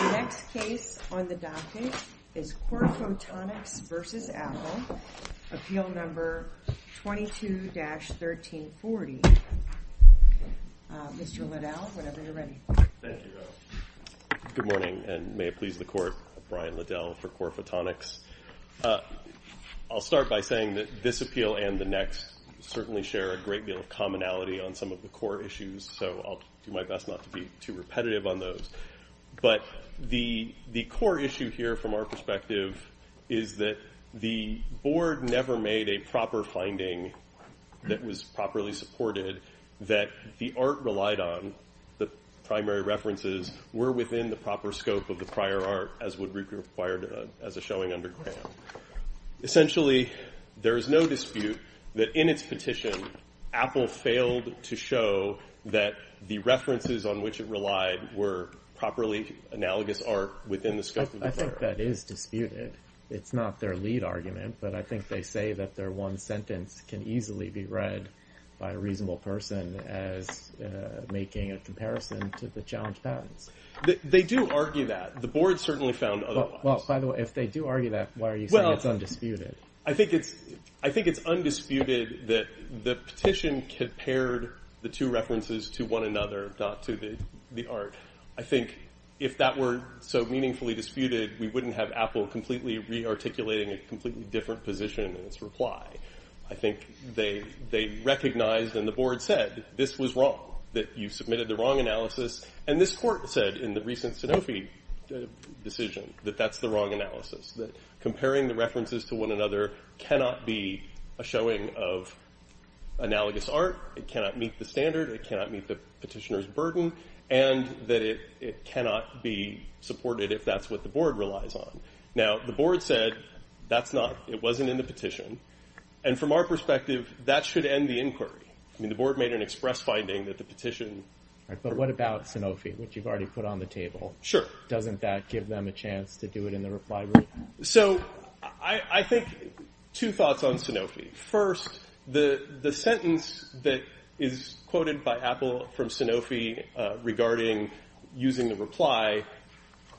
The next case on the docket is Corphotonics v. Apple, Appeal No. 22-1340. Mr. Liddell, whenever you're ready. Thank you. Good morning, and may it please the Court, I'm Brian Liddell for Corphotonics. I'll start by saying that this appeal and the next certainly share a great deal of commonality on some of the core issues, so I'll do my best not to be too repetitive on those. But the core issue here from our perspective is that the Board never made a proper finding that was properly supported that the art relied on, the primary references, were within the proper scope of the prior art, as would be required as a showing underground. Essentially, there is no dispute that in its petition, Apple failed to show that the references on which it relied were properly analogous art within the scope of the prior art. I think that is disputed. It's not their lead argument, but I think they say that their one sentence can easily be read by a reasonable person as making a comparison to the challenge patents. They do argue that. The Board certainly found otherwise. Well, by the way, if they do argue that, why are you saying it's undisputed? I think it's undisputed that the petition compared the two references to one another, not to the art. I think if that were so meaningfully disputed, we wouldn't have Apple completely re-articulating a completely different position in its reply. I think they recognized and the Board said this was wrong, that you submitted the wrong analysis, and this court said in the recent Sanofi decision that that's the wrong analysis, that comparing the references to one another cannot be a showing of analogous art. It cannot meet the standard. It cannot meet the petitioner's burden, and that it cannot be supported if that's what the Board relies on. Now, the Board said that's not, it wasn't in the petition, and from our perspective, that should end the inquiry. I mean, the Board made an express finding that the petition. But what about Sanofi, which you've already put on the table? Sure. Doesn't that give them a chance to do it in the reply room? So I think two thoughts on Sanofi. First, the sentence that is quoted by Apple from Sanofi regarding using the reply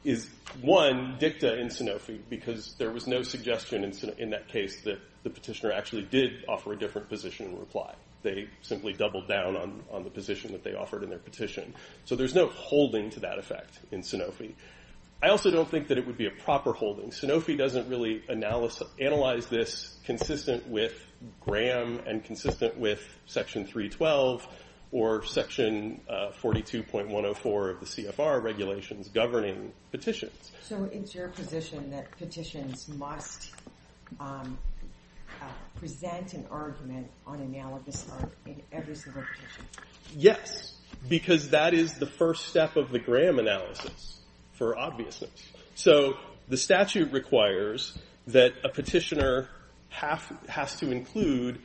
is, one, dicta in Sanofi, because there was no suggestion in that case that the petitioner actually did offer a different position in reply. They simply doubled down on the position that they offered in their petition. So there's no holding to that effect in Sanofi. I also don't think that it would be a proper holding. Sanofi doesn't really analyze this consistent with Graham and consistent with Section 312 or Section 42.104 of the CFR regulations governing petitions. So it's your position that petitions must present an argument on analogous art in every single petition? Yes, because that is the first step of the Graham analysis for obviousness. So the statute requires that a petitioner has to include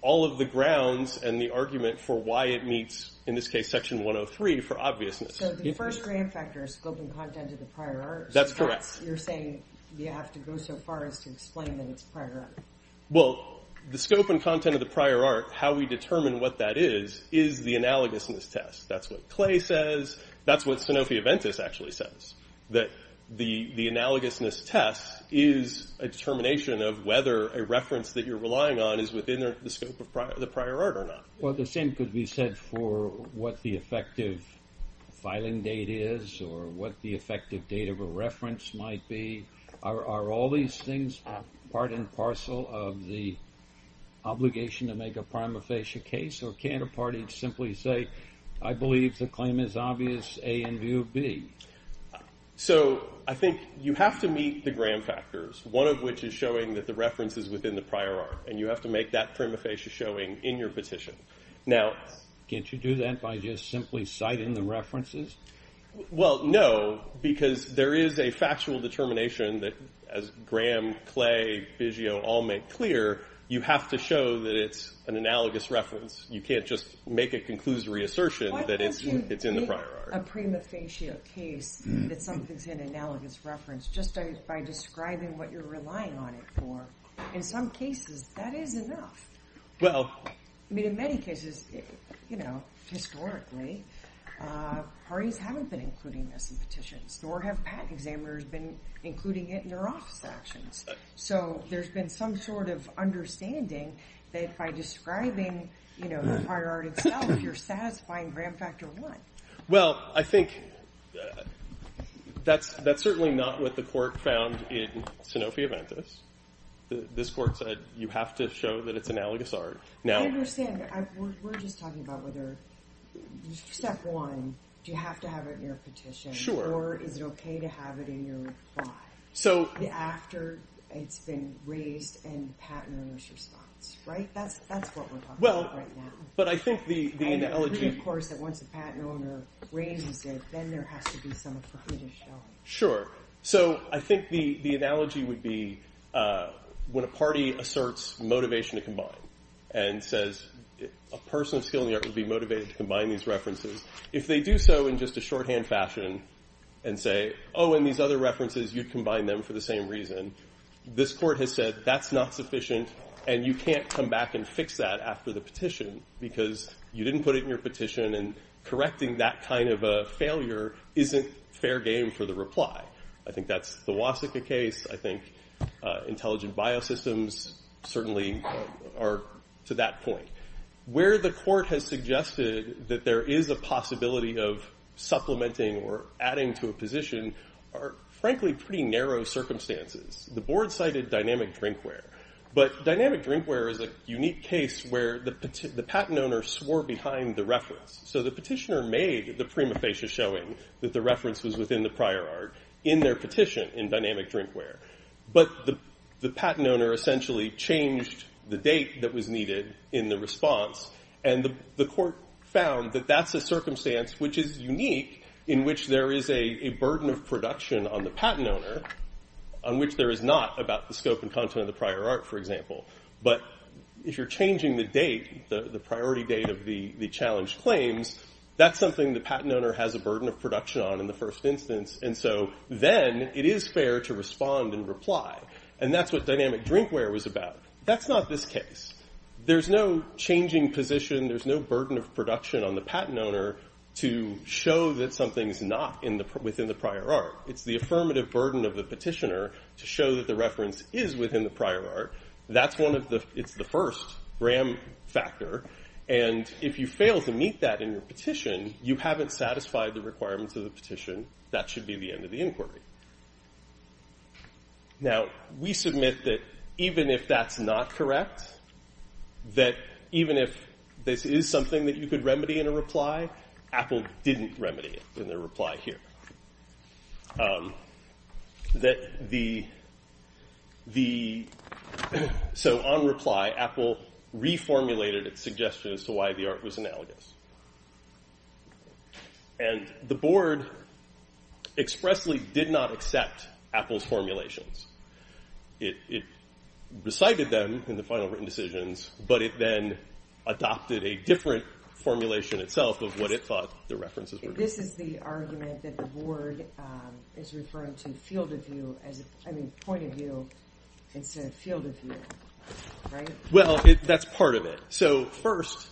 all of the grounds and the argument for why it meets, in this case, Section 103 for obviousness. So the first gram factor is scope and content of the prior art. That's correct. You're saying you have to go so far as to explain that it's prior art. Well, the scope and content of the prior art, how we determine what that is, is the analogousness test. That's what Clay says. That's what Sanofi Aventis actually says, that the analogousness test is a determination of whether a reference that you're relying on is within the scope of the prior art or not. Well, the same could be said for what the effective filing date is or what the effective date of a reference might be. Are all these things part and parcel of the obligation to make a prima facie case? Or can't a party simply say, I believe the claim is obvious, A, in view of B? So I think you have to meet the Graham factors, one of which is showing that the reference is within the prior art. And you have to make that prima facie showing in your petition. Now, can't you do that by just simply citing the references? Well, no, because there is a factual determination that, as Graham, Clay, Biggio all make clear, you have to show that it's an analogous reference. You can't just make a conclusory assertion that it's in the prior art. A prima facie case that something's in analogous reference just by describing what you're relying on it for. In some cases, that is enough. I mean, in many cases, historically, parties haven't been including this in petitions. Nor have patent examiners been including it in their office actions. So there's been some sort of understanding that by describing the prior art itself, you're satisfying Graham factor one. Well, I think that's certainly not what the court found in Sanofi Aventus. This court said you have to show that it's analogous art. I understand. We're just talking about whether step one, do you have to have it in your petition? Sure. Or is it okay to have it in your reply? So. After it's been raised in the patent owner's response, right? That's what we're talking about right now. But I think the analogy, of course, that once a patent owner raises it, then there has to be something for him to show. Sure. So I think the analogy would be when a party asserts motivation to combine and says a person of skill in the art would be motivated to combine these references. If they do so in just a shorthand fashion and say, oh, and these other references, you'd combine them for the same reason. This court has said that's not sufficient. And you can't come back and fix that after the petition because you didn't put it in your petition. And correcting that kind of a failure isn't fair game for the reply. I think that's the loss of the case. I think intelligent bio systems certainly are to that point where the court has suggested that there is a possibility of supplementing or adding to a position. Frankly, pretty narrow circumstances. The board cited dynamic drinkware. But dynamic drinkware is a unique case where the patent owner swore behind the reference. So the petitioner made the prima facie showing that the reference was within the prior art in their petition in dynamic drinkware. But the patent owner essentially changed the date that was needed in the response. And the court found that that's a circumstance which is unique in which there is a burden of production on the patent owner on which there is not about the scope and content of the prior art, for example. But if you're changing the date, the priority date of the challenge claims, that's something the patent owner has a burden of production on in the first instance. And so then it is fair to respond and reply. And that's what dynamic drinkware was about. That's not this case. There's no changing position. There's no burden of production on the patent owner to show that something's not within the prior art. It's the affirmative burden of the petitioner to show that the reference is within the prior art. That's one of the it's the first ram factor. And if you fail to meet that in your petition, you haven't satisfied the requirements of the petition. That should be the end of the inquiry. Now, we submit that even if that's not correct, that even if this is something that you could remedy in a reply, Apple didn't remedy it in their reply here. That the the so on reply, Apple reformulated its suggestion as to why the art was analogous. And the board expressly did not accept Apple's formulations. It recited them in the final written decisions. But it then adopted a different formulation itself of what it thought the references were. This is the argument that the board is referring to field of view as a point of view instead of field of view. Right. Well, that's part of it. So first,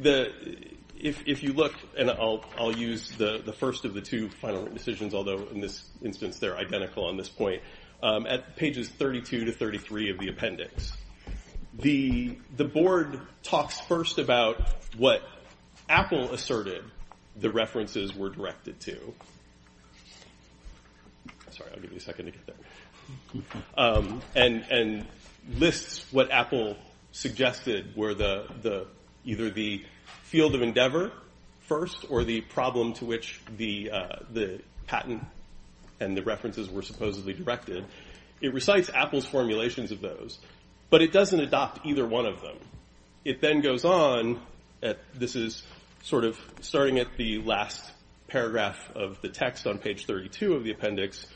if you look and I'll use the first of the two final decisions, although in this instance, they're identical on this point. At pages 32 to 33 of the appendix, the board talks first about what Apple asserted the references were directed to. Sorry, I'll give you a second to get there. And and lists what Apple suggested were the the either the field of endeavor first or the problem to which the the patent and the references were supposedly directed. It recites Apple's formulations of those, but it doesn't adopt either one of them. It then goes on. This is sort of starting at the last paragraph of the text on page 32 of the appendix.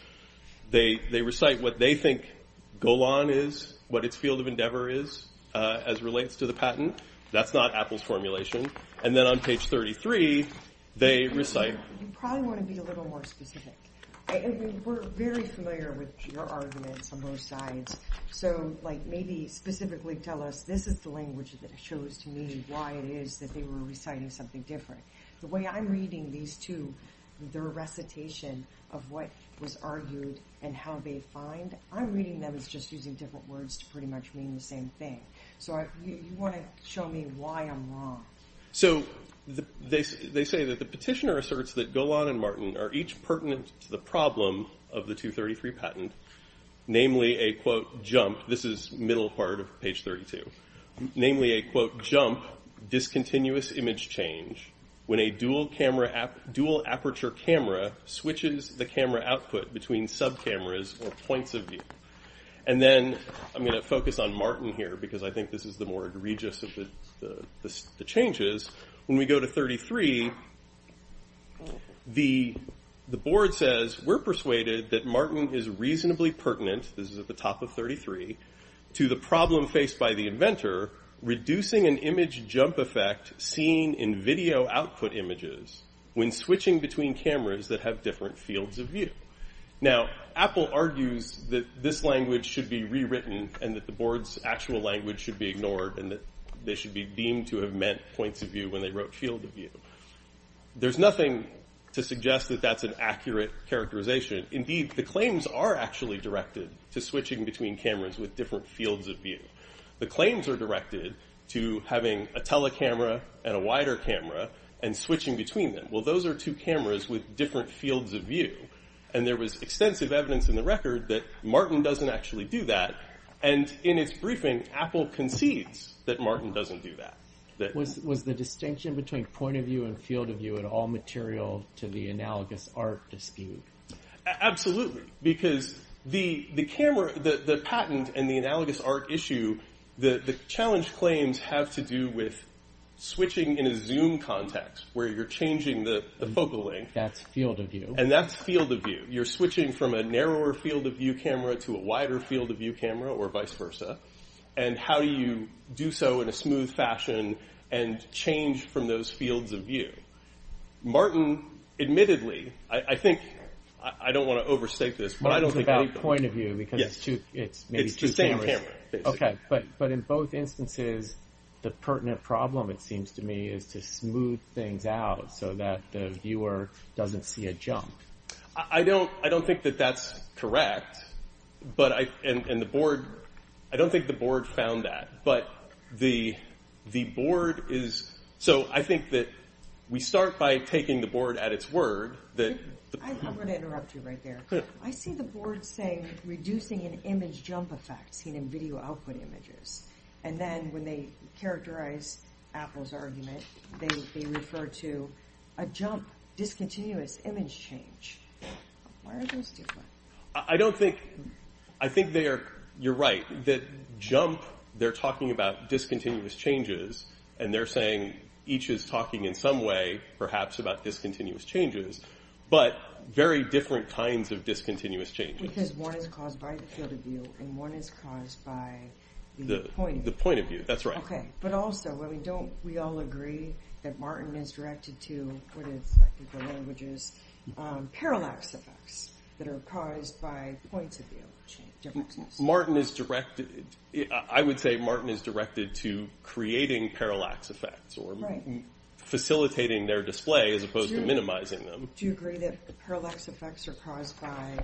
They they recite what they think Golan is, what its field of endeavor is as relates to the patent. That's not Apple's formulation. And then on page 33, they recite. You probably want to be a little more specific. We're very familiar with your arguments on both sides. So like maybe specifically tell us this is the language that shows to me why it is that they were reciting something different. The way I'm reading these two, their recitation of what was argued and how they find. I'm reading them as just using different words to pretty much mean the same thing. So I want to show me why I'm wrong. So they say that the petitioner asserts that Golan and Martin are each pertinent to the problem of the 233 patent, namely a quote, jump. This is middle part of page 32, namely a quote, jump discontinuous image change. When a dual camera, dual aperture camera switches the camera output between sub cameras or points of view. And then I'm going to focus on Martin here because I think this is the more egregious of the changes when we go to 33. The the board says we're persuaded that Martin is reasonably pertinent. This is at the top of 33 to the problem faced by the inventor, reducing an image jump effect seen in video output images when switching between cameras that have different fields of view. Now, Apple argues that this language should be rewritten and that the board's actual language should be ignored and that they should be deemed to have meant points of view when they wrote field of view. There's nothing to suggest that that's an accurate characterization. Indeed, the claims are actually directed to switching between cameras with different fields of view. The claims are directed to having a tele camera and a wider camera and switching between them. Well, those are two cameras with different fields of view. And there was extensive evidence in the record that Martin doesn't actually do that. And in its briefing, Apple concedes that Martin doesn't do that. That was the distinction between point of view and field of view at all material to the analogous art dispute. Absolutely, because the the camera, the patent and the analogous art issue, the challenge claims have to do with switching in a zoom context where you're changing the focal length. That's field of view. And that's field of view. You're switching from a narrower field of view camera to a wider field of view camera or vice versa. And how do you do so in a smooth fashion and change from those fields of view? Martin, admittedly, I think I don't want to overstate this, but I don't think that point of view because it's it's just OK. But but in both instances, the pertinent problem, it seems to me, is to smooth things out so that the viewer doesn't see a jump. I don't I don't think that that's correct. But I and the board, I don't think the board found that. But the the board is. So I think that we start by taking the board at its word that I'm going to interrupt you right there. I see the board saying reducing an image jump effect seen in video output images. And then when they characterize Apple's argument, they refer to a jump, discontinuous image change. I don't think I think they are. You're right that jump. They're talking about discontinuous changes and they're saying each is talking in some way, perhaps about discontinuous changes, but very different kinds of discontinuous changes. Because one is caused by the field of view and one is caused by the point, the point of view. That's right. But also, I mean, don't we all agree that Martin is directed to what is the languages parallax effects that are caused by points of view? Martin is directed. I would say Martin is directed to creating parallax effects or facilitating their display as opposed to minimizing them. Do you agree that parallax effects are caused by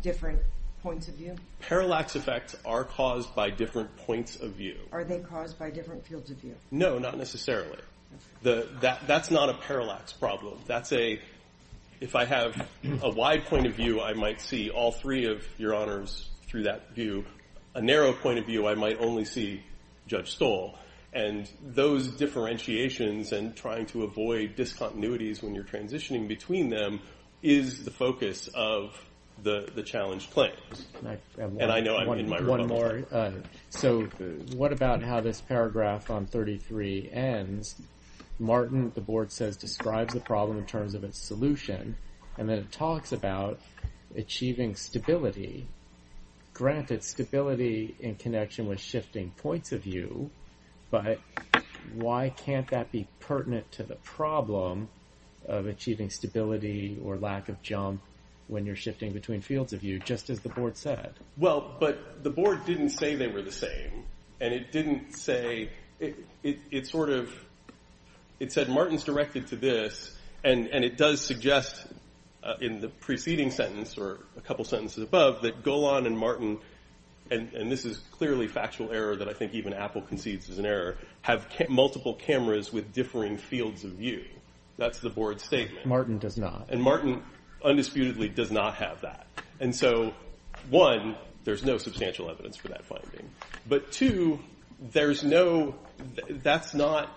different points of view? Parallax effects are caused by different points of view. Are they caused by different fields of view? No, not necessarily. That's not a parallax problem. That's a if I have a wide point of view, I might see all three of your honors through that view. A narrow point of view, I might only see Judge Stoll and those differentiations and trying to avoid discontinuities when you're transitioning between them is the focus of the challenge. And I know I'm in my one more. So what about how this paragraph on 33 ends? Martin, the board says, describes the problem in terms of its solution, and then it talks about achieving stability, granted stability in connection with shifting points of view. But why can't that be pertinent to the problem of achieving stability or lack of jump when you're shifting between fields of view, just as the board said? Well, but the board didn't say they were the same, and it didn't say it sort of. It said Martin's directed to this, and it does suggest in the preceding sentence or a couple sentences above that Golan and Martin. And this is clearly factual error that I think even Apple concedes is an error, have multiple cameras with differing fields of view. That's the board statement. Martin does not. And Martin undisputedly does not have that. And so, one, there's no substantial evidence for that finding. But two, there's no that's not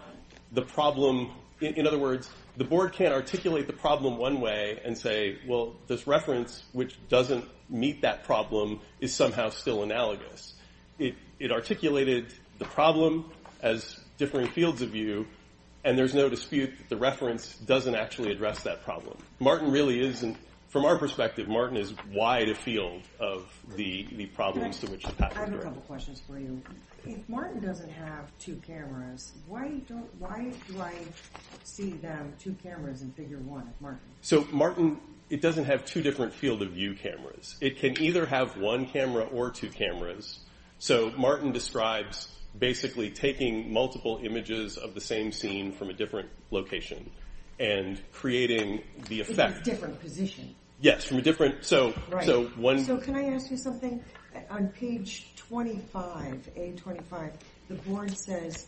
the problem. In other words, the board can't articulate the problem one way and say, well, this reference, which doesn't meet that problem, is somehow still analogous. It articulated the problem as different fields of view, and there's no dispute that the reference doesn't actually address that problem. Martin really isn't, from our perspective, Martin is wide a field of the problems to which the patent is directed. I have a couple questions for you. If Martin doesn't have two cameras, why do I see them, two cameras in figure one of Martin? So Martin, it doesn't have two different field of view cameras. It can either have one camera or two cameras. So Martin describes basically taking multiple images of the same scene from a different location and creating the effect different position. So can I ask you something? On page 25, A25, the board says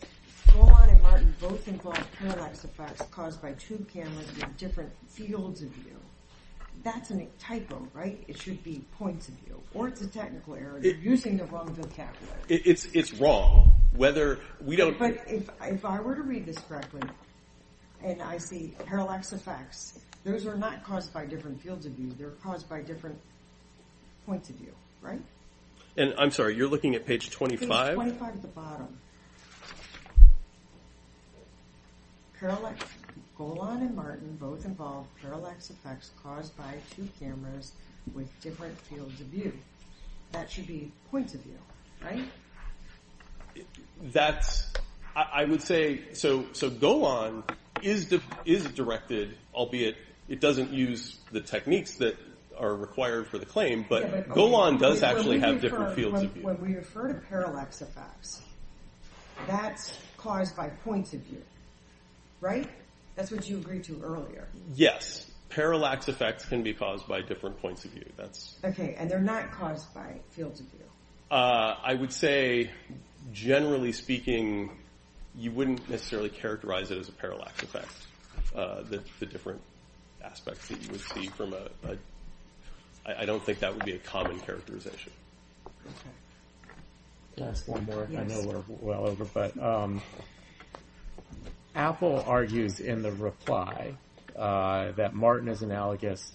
Roman and Martin both involve parallax effects caused by two cameras in different fields of view. That's a typo, right? It should be points of view. Or it's a technical error. You're using the wrong vocabulary. It's wrong. But if I were to read this correctly, and I see parallax effects, those are not caused by different fields of view, they're caused by different points of view, right? I'm sorry, you're looking at page 25? Page 25 at the bottom. Golan and Martin both involve parallax effects caused by two cameras with different fields of view. That should be points of view, right? That's, I would say, so Golan is directed, albeit it doesn't use the techniques that are required for the claim, but Golan does actually have different fields of view. When we refer to parallax effects, that's caused by points of view, right? That's what you agreed to earlier. Yes, parallax effects can be caused by different points of view. Okay, and they're not caused by fields of view. I would say, generally speaking, you wouldn't necessarily characterize it as a parallax effect. The different aspects that you would see from a, I don't think that would be a common characterization. Okay. Can I ask one more? I know we're well over, but Apple argues in the reply that Martin is analogous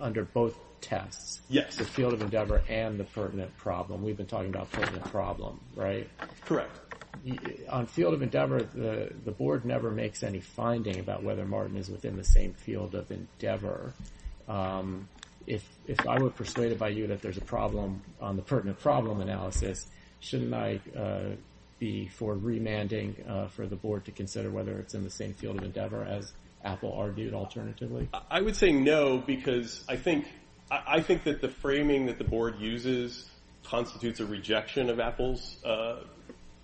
under both tests. Yes. The field of endeavor and the pertinent problem. We've been talking about the pertinent problem, right? Correct. On field of endeavor, the board never makes any finding about whether Martin is within the same field of endeavor. If I were persuaded by you that there's a problem on the pertinent problem analysis, shouldn't I be for remanding for the board to consider whether it's in the same field of endeavor as Apple argued alternatively? I would say no, because I think that the framing that the board uses constitutes a rejection of Apple's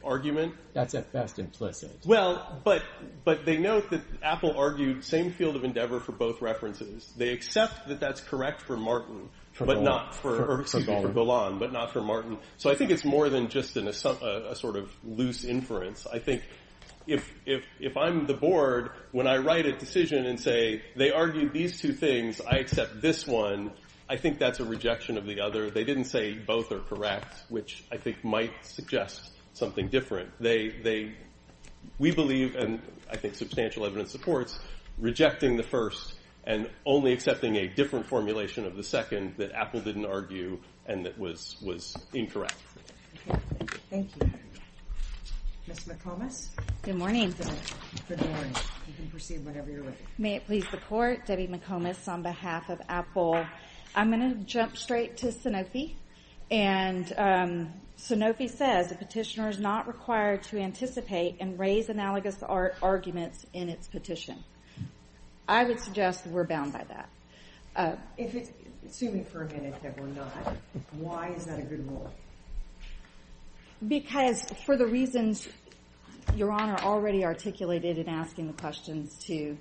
argument. That's at best implicit. Well, but they note that Apple argued same field of endeavor for both references. They accept that that's correct for Martin, but not for, excuse me, for Golan, but not for Martin. So I think it's more than just a sort of loose inference. I think if I'm the board, when I write a decision and say they argued these two things, I accept this one, I think that's a rejection of the other. They didn't say both are correct, which I think might suggest something different. We believe, and I think substantial evidence supports, rejecting the first and only accepting a different formulation of the second that Apple didn't argue and that was incorrect. Thank you. Ms. McComas? Good morning. Good morning. You can proceed whenever you're ready. May it please the Court, Debbie McComas on behalf of Apple. I'm going to jump straight to Sanofi, and Sanofi says a petitioner is not required to anticipate and raise analogous arguments in its petition. I would suggest that we're bound by that. If it's, excuse me for a minute, that we're not, why is that a good rule? Because for the reasons Your Honor already articulated in asking the questions to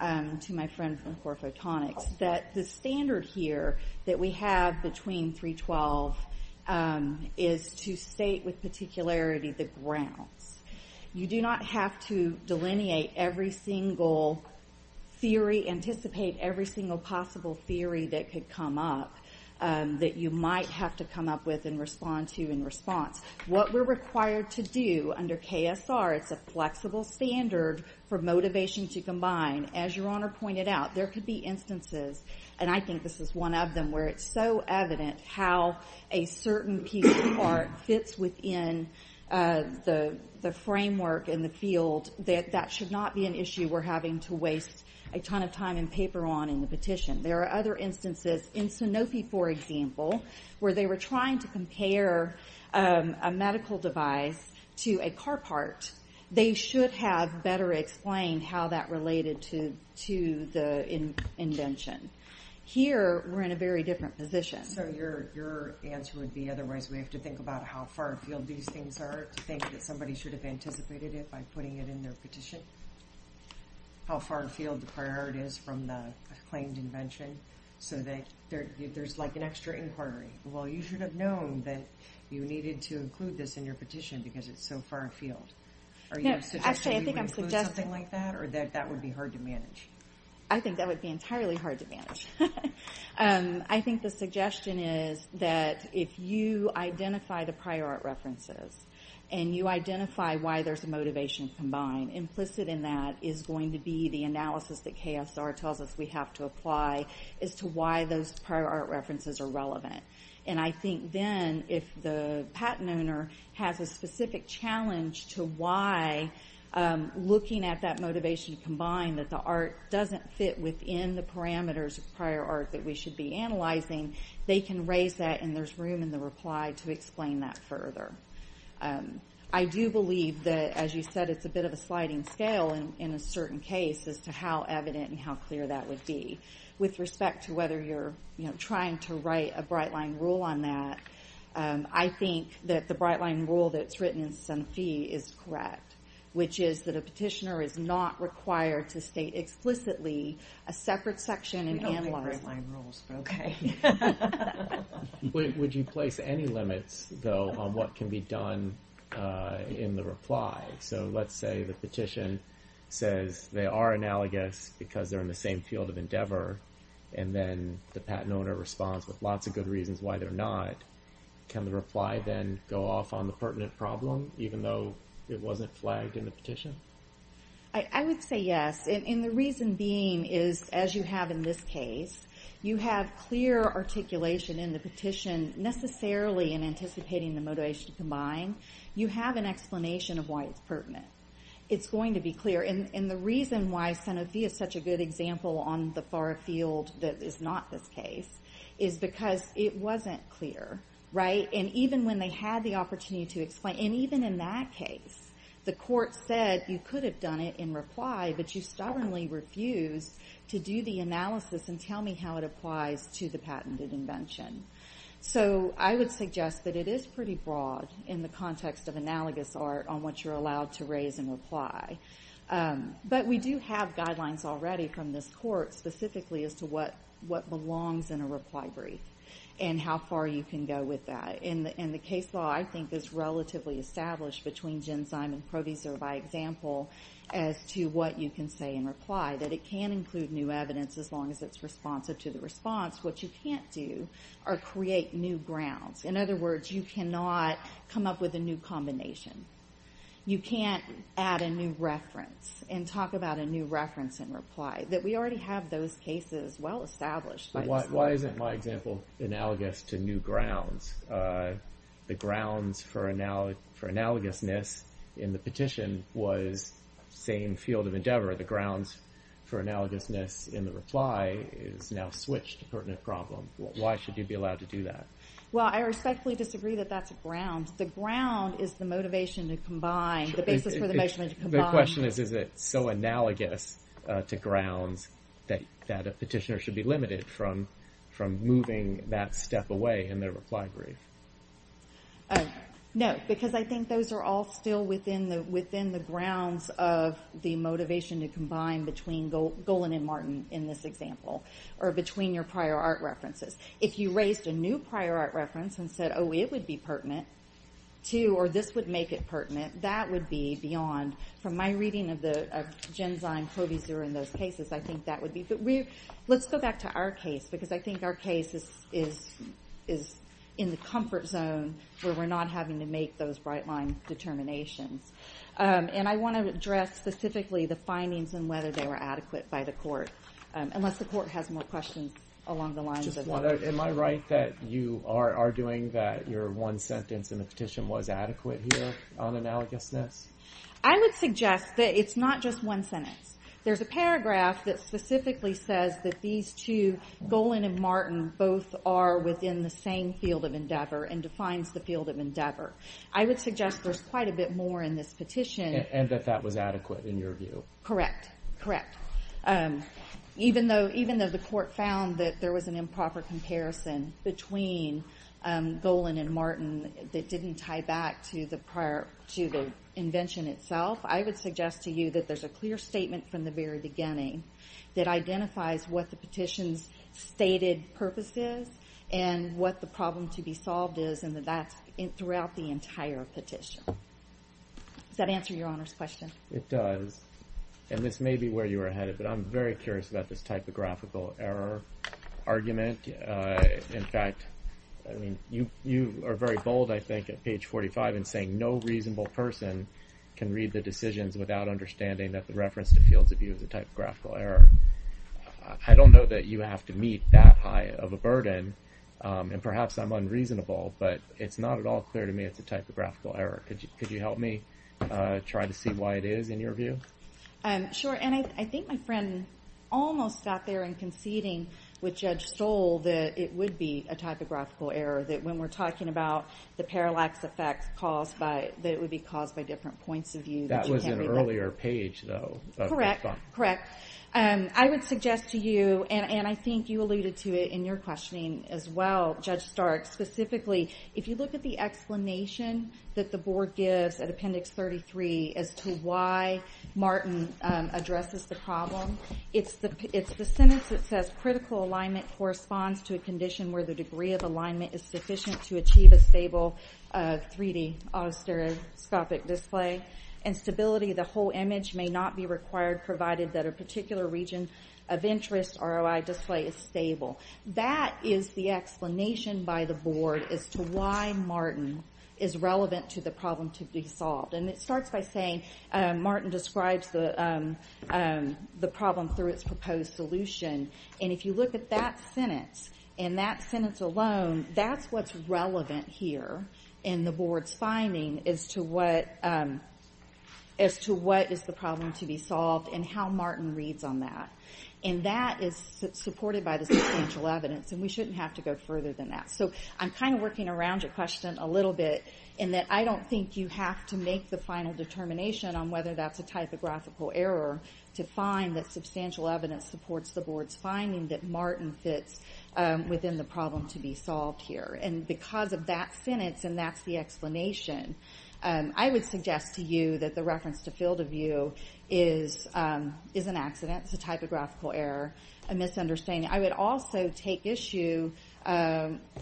my friend from Core Photonics, that the standard here that we have between 312 is to state with particularity the grounds. You do not have to delineate every single theory, anticipate every single possible theory that could come up that you might have to come up with and respond to in response. What we're required to do under KSR, it's a flexible standard for motivation to combine. As Your Honor pointed out, there could be instances, and I think this is one of them, where it's so evident how a certain piece of art fits within the framework and the field that that should not be an issue we're having to waste a ton of time and paper on in the petition. There are other instances in Sanofi, for example, where they were trying to compare a medical device to a car part. They should have better explained how that related to the invention. Here, we're in a very different position. So your answer would be, otherwise we have to think about how far afield these things are, to think that somebody should have anticipated it by putting it in their petition, how far afield the priority is from the claimed invention, so that there's like an extra inquiry. Well, you should have known that you needed to include this in your petition because it's so far afield. Are you suggesting we would include something like that, or that that would be hard to manage? I think that would be entirely hard to manage. I think the suggestion is that if you identify the prior art references, and you identify why there's a motivation to combine, implicit in that is going to be the analysis that KSR tells us we have to apply as to why those prior art references are relevant. And I think then, if the patent owner has a specific challenge to why looking at that motivation to combine, that the art doesn't fit within the parameters of prior art that we should be analyzing, they can raise that, and there's room in the reply to explain that further. I do believe that, as you said, it's a bit of a sliding scale in a certain case as to how evident and how clear that would be. But with respect to whether you're trying to write a bright-line rule on that, I think that the bright-line rule that's written in Sanfi is correct, which is that a petitioner is not required to state explicitly a separate section and analyze it. We don't make bright-line rules, but okay. Would you place any limits, though, on what can be done in the reply? So let's say the petition says they are analogous because they're in the same field of endeavor, and then the patent owner responds with lots of good reasons why they're not. Can the reply then go off on the pertinent problem, even though it wasn't flagged in the petition? I would say yes, and the reason being is, as you have in this case, you have clear articulation in the petition necessarily in anticipating the motivation to combine. You have an explanation of why it's pertinent. It's going to be clear, and the reason why Sanfi is such a good example on the far field that is not this case is because it wasn't clear, right? And even when they had the opportunity to explain, and even in that case, the court said you could have done it in reply, but you stubbornly refused to do the analysis and tell me how it applies to the patented invention. So I would suggest that it is pretty broad in the context of analogous art on what you're allowed to raise in reply. But we do have guidelines already from this court specifically as to what belongs in a reply brief and how far you can go with that. And the case law, I think, is relatively established between Genzyme and Proviso by example as to what you can say in reply, that it can include new evidence as long as it's responsive to the response. What you can't do are create new grounds. In other words, you cannot come up with a new combination. You can't add a new reference and talk about a new reference in reply. We already have those cases well established by this court. Why isn't my example analogous to new grounds? The grounds for analogousness in the petition was the same field of endeavor. The grounds for analogousness in the reply is now switched to pertinent problem. Why should you be allowed to do that? Well, I respectfully disagree that that's a ground. The ground is the motivation to combine, the basis for the motivation to combine. The question is, is it so analogous to grounds that a petitioner should be limited from moving that step away in their reply brief? No, because I think those are all still within the grounds of the motivation to combine between Golan and Martin in this example, or between your prior art references. If you raised a new prior art reference and said, oh, it would be pertinent, or this would make it pertinent, that would be beyond. From my reading of Genzyme, Proviso, and those cases, I think that would be. Let's go back to our case, because I think our case is in the comfort zone, where we're not having to make those bright-line determinations. And I want to address specifically the findings and whether they were adequate by the court, unless the court has more questions along the lines of that. Am I right that you are arguing that your one sentence in the petition was adequate here on analogousness? I would suggest that it's not just one sentence. There's a paragraph that specifically says that these two, Golan and Martin, both are within the same field of endeavor and defines the field of endeavor. I would suggest there's quite a bit more in this petition. And that that was adequate in your view? Correct, correct. Even though the court found that there was an improper comparison between Golan and Martin that didn't tie back to the invention itself, I would suggest to you that there's a clear statement from the very beginning that identifies what the petition's stated purpose is and what the problem to be solved is, and that that's throughout the entire petition. Does that answer Your Honor's question? It does, and this may be where you were headed, but I'm very curious about this typographical error argument. In fact, you are very bold, I think, at page 45 in saying, no reasonable person can read the decisions without understanding that the reference to fields of view is a typographical error. I don't know that you have to meet that high of a burden, and perhaps I'm unreasonable, but it's not at all clear to me it's a typographical error. Could you help me try to see why it is in your view? Sure, and I think my friend almost got there in conceding with Judge Stoll that it would be a typographical error, that when we're talking about the parallax effect that it would be caused by different points of view. That was in an earlier page, though. Correct, correct. I would suggest to you, and I think you alluded to it in your questioning as well, Judge Stark, specifically, if you look at the explanation that the Board gives at Appendix 33 as to why Martin addresses the problem, it's the sentence that says critical alignment corresponds to a condition where the degree of alignment is sufficient to achieve a stable 3D autostereoscopic display, and stability of the whole image may not be required provided that a particular region of interest ROI display is stable. That is the explanation by the Board as to why Martin is relevant to the problem to be solved, and it starts by saying Martin describes the problem through its proposed solution, and if you look at that sentence and that sentence alone, that's what's relevant here in the Board's finding as to what is the problem to be solved and how Martin reads on that. And that is supported by the substantial evidence, and we shouldn't have to go further than that. So I'm kind of working around your question a little bit in that I don't think you have to make the final determination on whether that's a typographical error to find that substantial evidence supports the Board's finding that Martin fits within the problem to be solved here. And because of that sentence and that's the explanation, I would suggest to you that the reference to field of view is an accident, it's a typographical error, a misunderstanding. I would also take issue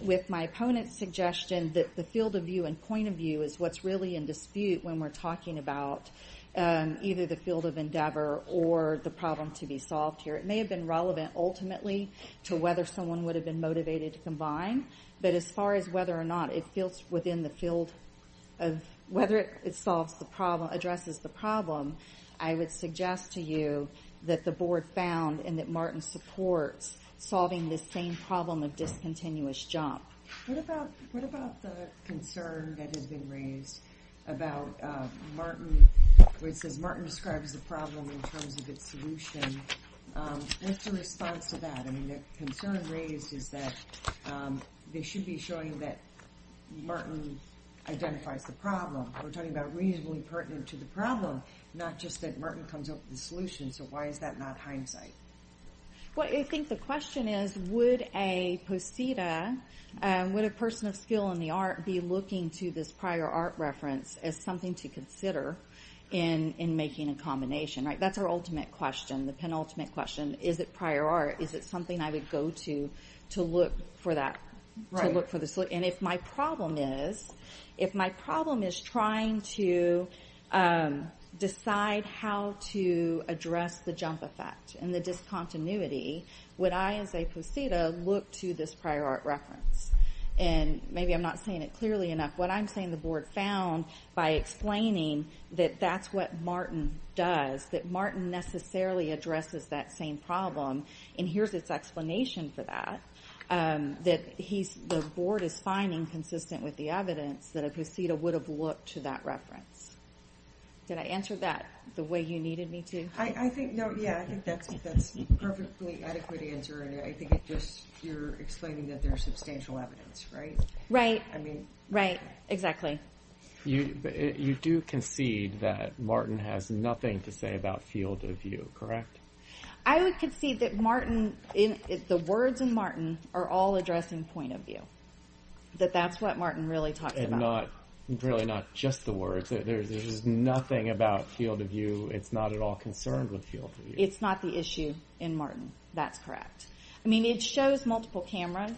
with my opponent's suggestion that the field of view and point of view is what's really in dispute when we're talking about either the field of endeavor or the problem to be solved here. It may have been relevant ultimately to whether someone would have been motivated to combine, but as far as whether or not it addresses the problem, I would suggest to you that the Board found and that Martin supports solving this same problem of discontinuous jump. What about the concern that has been raised about Martin, where it says Martin describes the problem in terms of its solution? What's your response to that? I mean, the concern raised is that they should be showing that Martin identifies the problem. We're talking about reasonably pertinent to the problem, not just that Martin comes up with the solution, so why is that not hindsight? I think the question is, would a person of skill in the art be looking to this prior art reference as something to consider in making a combination? That's our ultimate question, the penultimate question. Is it prior art? Is it something I would go to to look for the solution? If my problem is trying to decide how to address the jump effect and the discontinuity, would I as a poseta look to this prior art reference? Maybe I'm not saying it clearly enough. What I'm saying the Board found by explaining that that's what Martin does, that Martin necessarily addresses that same problem, and here's its explanation for that, that the Board is finding consistent with the evidence that a poseta would have looked to that reference. Did I answer that the way you needed me to? I think that's a perfectly adequate answer. I think you're explaining that there's substantial evidence, right? Right, exactly. You do concede that Martin has nothing to say about field of view, correct? I would concede that the words in Martin are all addressing point of view, that that's what Martin really talks about. Really not just the words. There's nothing about field of view. It's not at all concerned with field of view. It's not the issue in Martin. That's correct. I mean, it shows multiple cameras.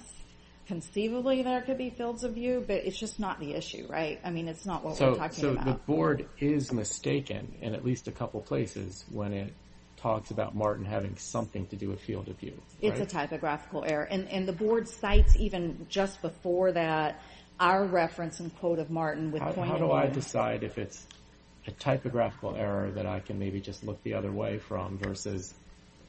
Conceivably, there could be fields of view, but it's just not the issue, right? I mean, it's not what we're talking about. So the Board is mistaken in at least a couple places when it talks about Martin having something to do with field of view, right? It's a typographical error, and the Board cites even just before that our reference and quote of Martin with point of view. How do I decide if it's a typographical error that I can maybe just look the other way from versus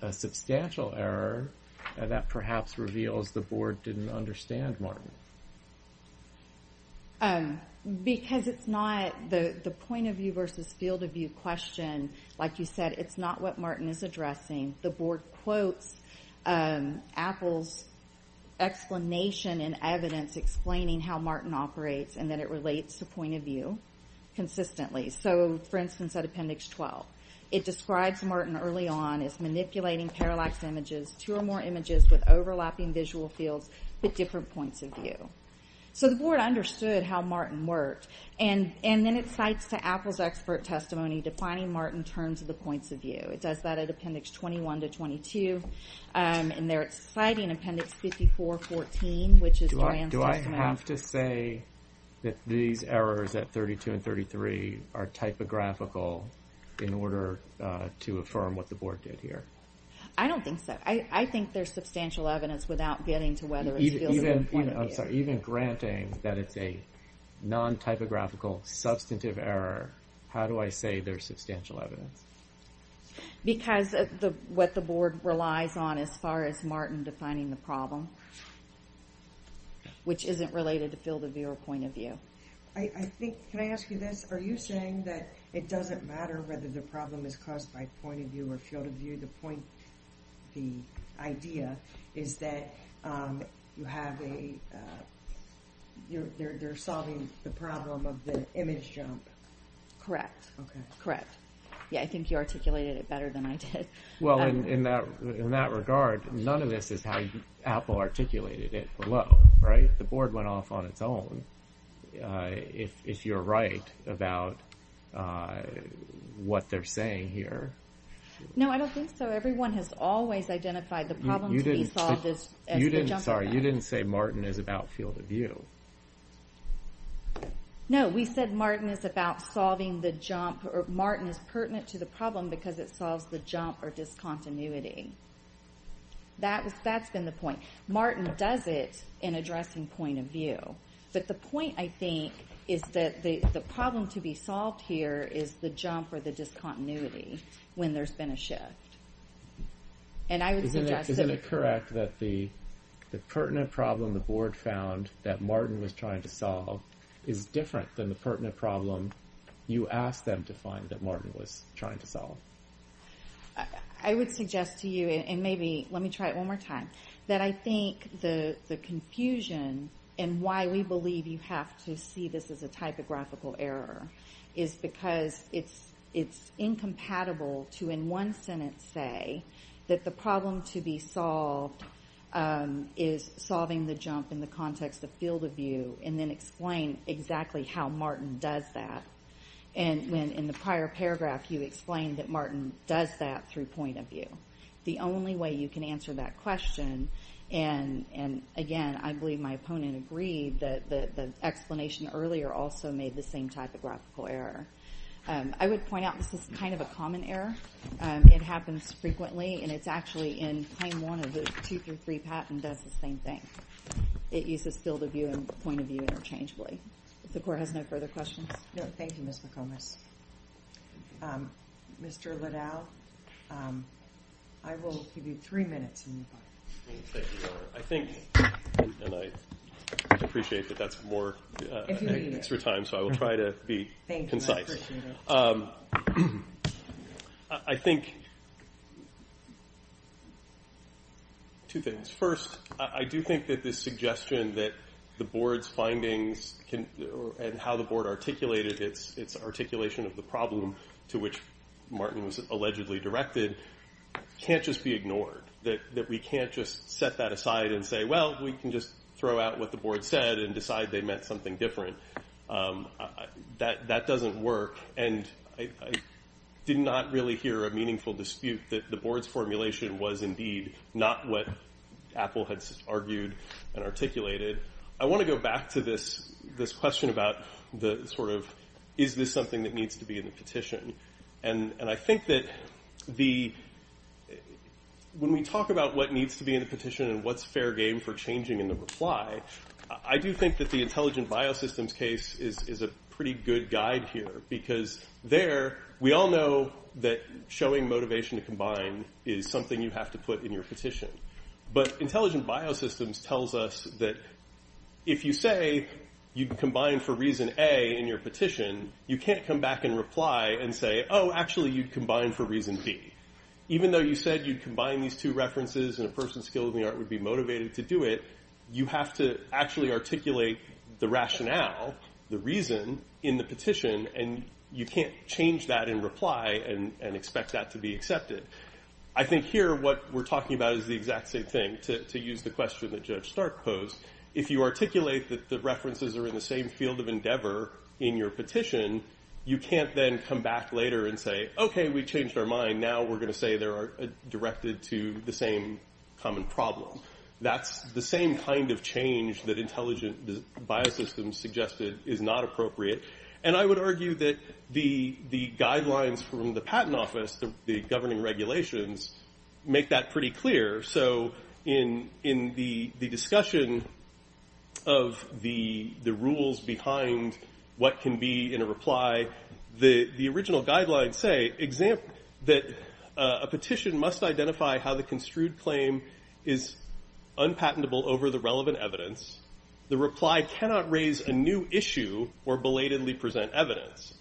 a substantial error that perhaps reveals the Board didn't understand Martin? Because it's not the point of view versus field of view question. Like you said, it's not what Martin is addressing. The Board quotes Apple's explanation and evidence explaining how Martin operates and that it relates to point of view consistently. So, for instance, at Appendix 12, it describes Martin early on as manipulating parallax images, two or more images with overlapping visual fields, but different points of view. So the Board understood how Martin worked, and then it cites to Apple's expert testimony defining Martin in terms of the points of view. It does that at Appendix 21 to 22, and there it's citing Appendix 54-14, which is Joanne's testimony. Do I have to say that these errors at 32 and 33 are typographical in order to affirm what the Board did here? I don't think so. I think there's substantial evidence without getting to whether it's field of view or point of view. Even granting that it's a non-typographical substantive error, how do I say there's substantial evidence? Because what the Board relies on as far as Martin defining the problem, which isn't related to field of view or point of view. Can I ask you this? Are you saying that it doesn't matter whether the problem is caused by point of view or field of view? The idea is that they're solving the problem of the image jump. Correct. I think you articulated it better than I did. Well, in that regard, none of this is how Apple articulated it below, right? The Board went off on its own. If you're right about what they're saying here. No, I don't think so. Everyone has always identified the problem to be solved as a jump. Sorry, you didn't say Martin is about field of view. No, we said Martin is pertinent to the problem because it solves the jump or discontinuity. That's been the point. Martin does it in addressing point of view. But the point, I think, is that the problem to be solved here is the jump or the discontinuity when there's been a shift. Isn't it correct that the pertinent problem the Board found that Martin was trying to solve is different than the pertinent problem you asked them to find that Martin was trying to solve? I would suggest to you, and maybe let me try it one more time, that I think the confusion and why we believe you have to see this as a typographical error is because it's incompatible to, in one sentence, say that the problem to be solved is solving the jump in the context of field of view and then explain exactly how Martin does that. In the prior paragraph, you explained that Martin does that through point of view. The only way you can answer that question, and again, I believe my opponent agreed, that the explanation earlier also made the same typographical error. I would point out this is kind of a common error. It happens frequently, and it's actually in claim one of the 2 through 3 patent does the same thing. It uses field of view and point of view interchangeably. If the Court has no further questions. No, thank you, Ms. McComas. Mr. Liddell, I will give you three minutes. Thank you, Governor. I think, and I appreciate that that's more extra time, so I will try to be concise. Thank you. I appreciate it. I think two things. First, I do think that this suggestion that the Board's findings and how the Board articulated its articulation of the problem to which Martin was allegedly directed can't just be ignored, that we can't just set that aside and say, well, we can just throw out what the Board said and decide they meant something different. That doesn't work, and I did not really hear a meaningful dispute that the Board's formulation was indeed not what Apple had argued and articulated. I want to go back to this question about the sort of, is this something that needs to be in the petition? And I think that when we talk about what needs to be in the petition and what's fair game for changing in the reply, I do think that the Intelligent Biosystems case is a pretty good guide here, because there, we all know that showing motivation to combine is something you have to put in your petition. But Intelligent Biosystems tells us that if you say you'd combine for reason A in your petition, you can't come back and reply and say, oh, actually, you'd combine for reason B. Even though you said you'd combine these two references and a person skilled in the art would be motivated to do it, you have to actually articulate the rationale, the reason, in the petition, and you can't change that in reply and expect that to be accepted. I think here what we're talking about is the exact same thing, to use the question that Judge Stark posed. If you articulate that the references are in the same field of endeavor in your petition, you can't then come back later and say, okay, we changed our mind. Now we're going to say they're directed to the same common problem. That's the same kind of change that Intelligent Biosystems suggested is not appropriate. And I would argue that the guidelines from the Patent Office, the governing regulations, make that pretty clear. So in the discussion of the rules behind what can be in a reply, the original guidelines say that a petition must identify how the construed claim is unpatentable over the relevant evidence. The reply cannot raise a new issue or belatedly present evidence.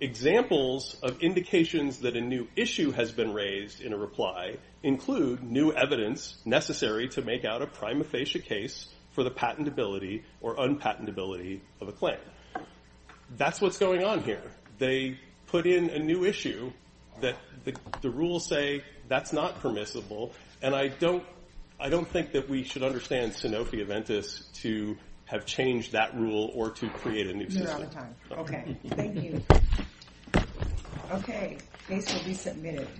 Examples of indications that a new issue has been raised in a reply include new evidence necessary to make out a prima facie case for the patentability or unpatentability of a claim. That's what's going on here. They put in a new issue that the rules say that's not permissible, and I don't think that we should understand Sanofi Aventis to have changed that rule or to create a new system. You're out of time. Okay. Thank you. Okay. Case will be submitted.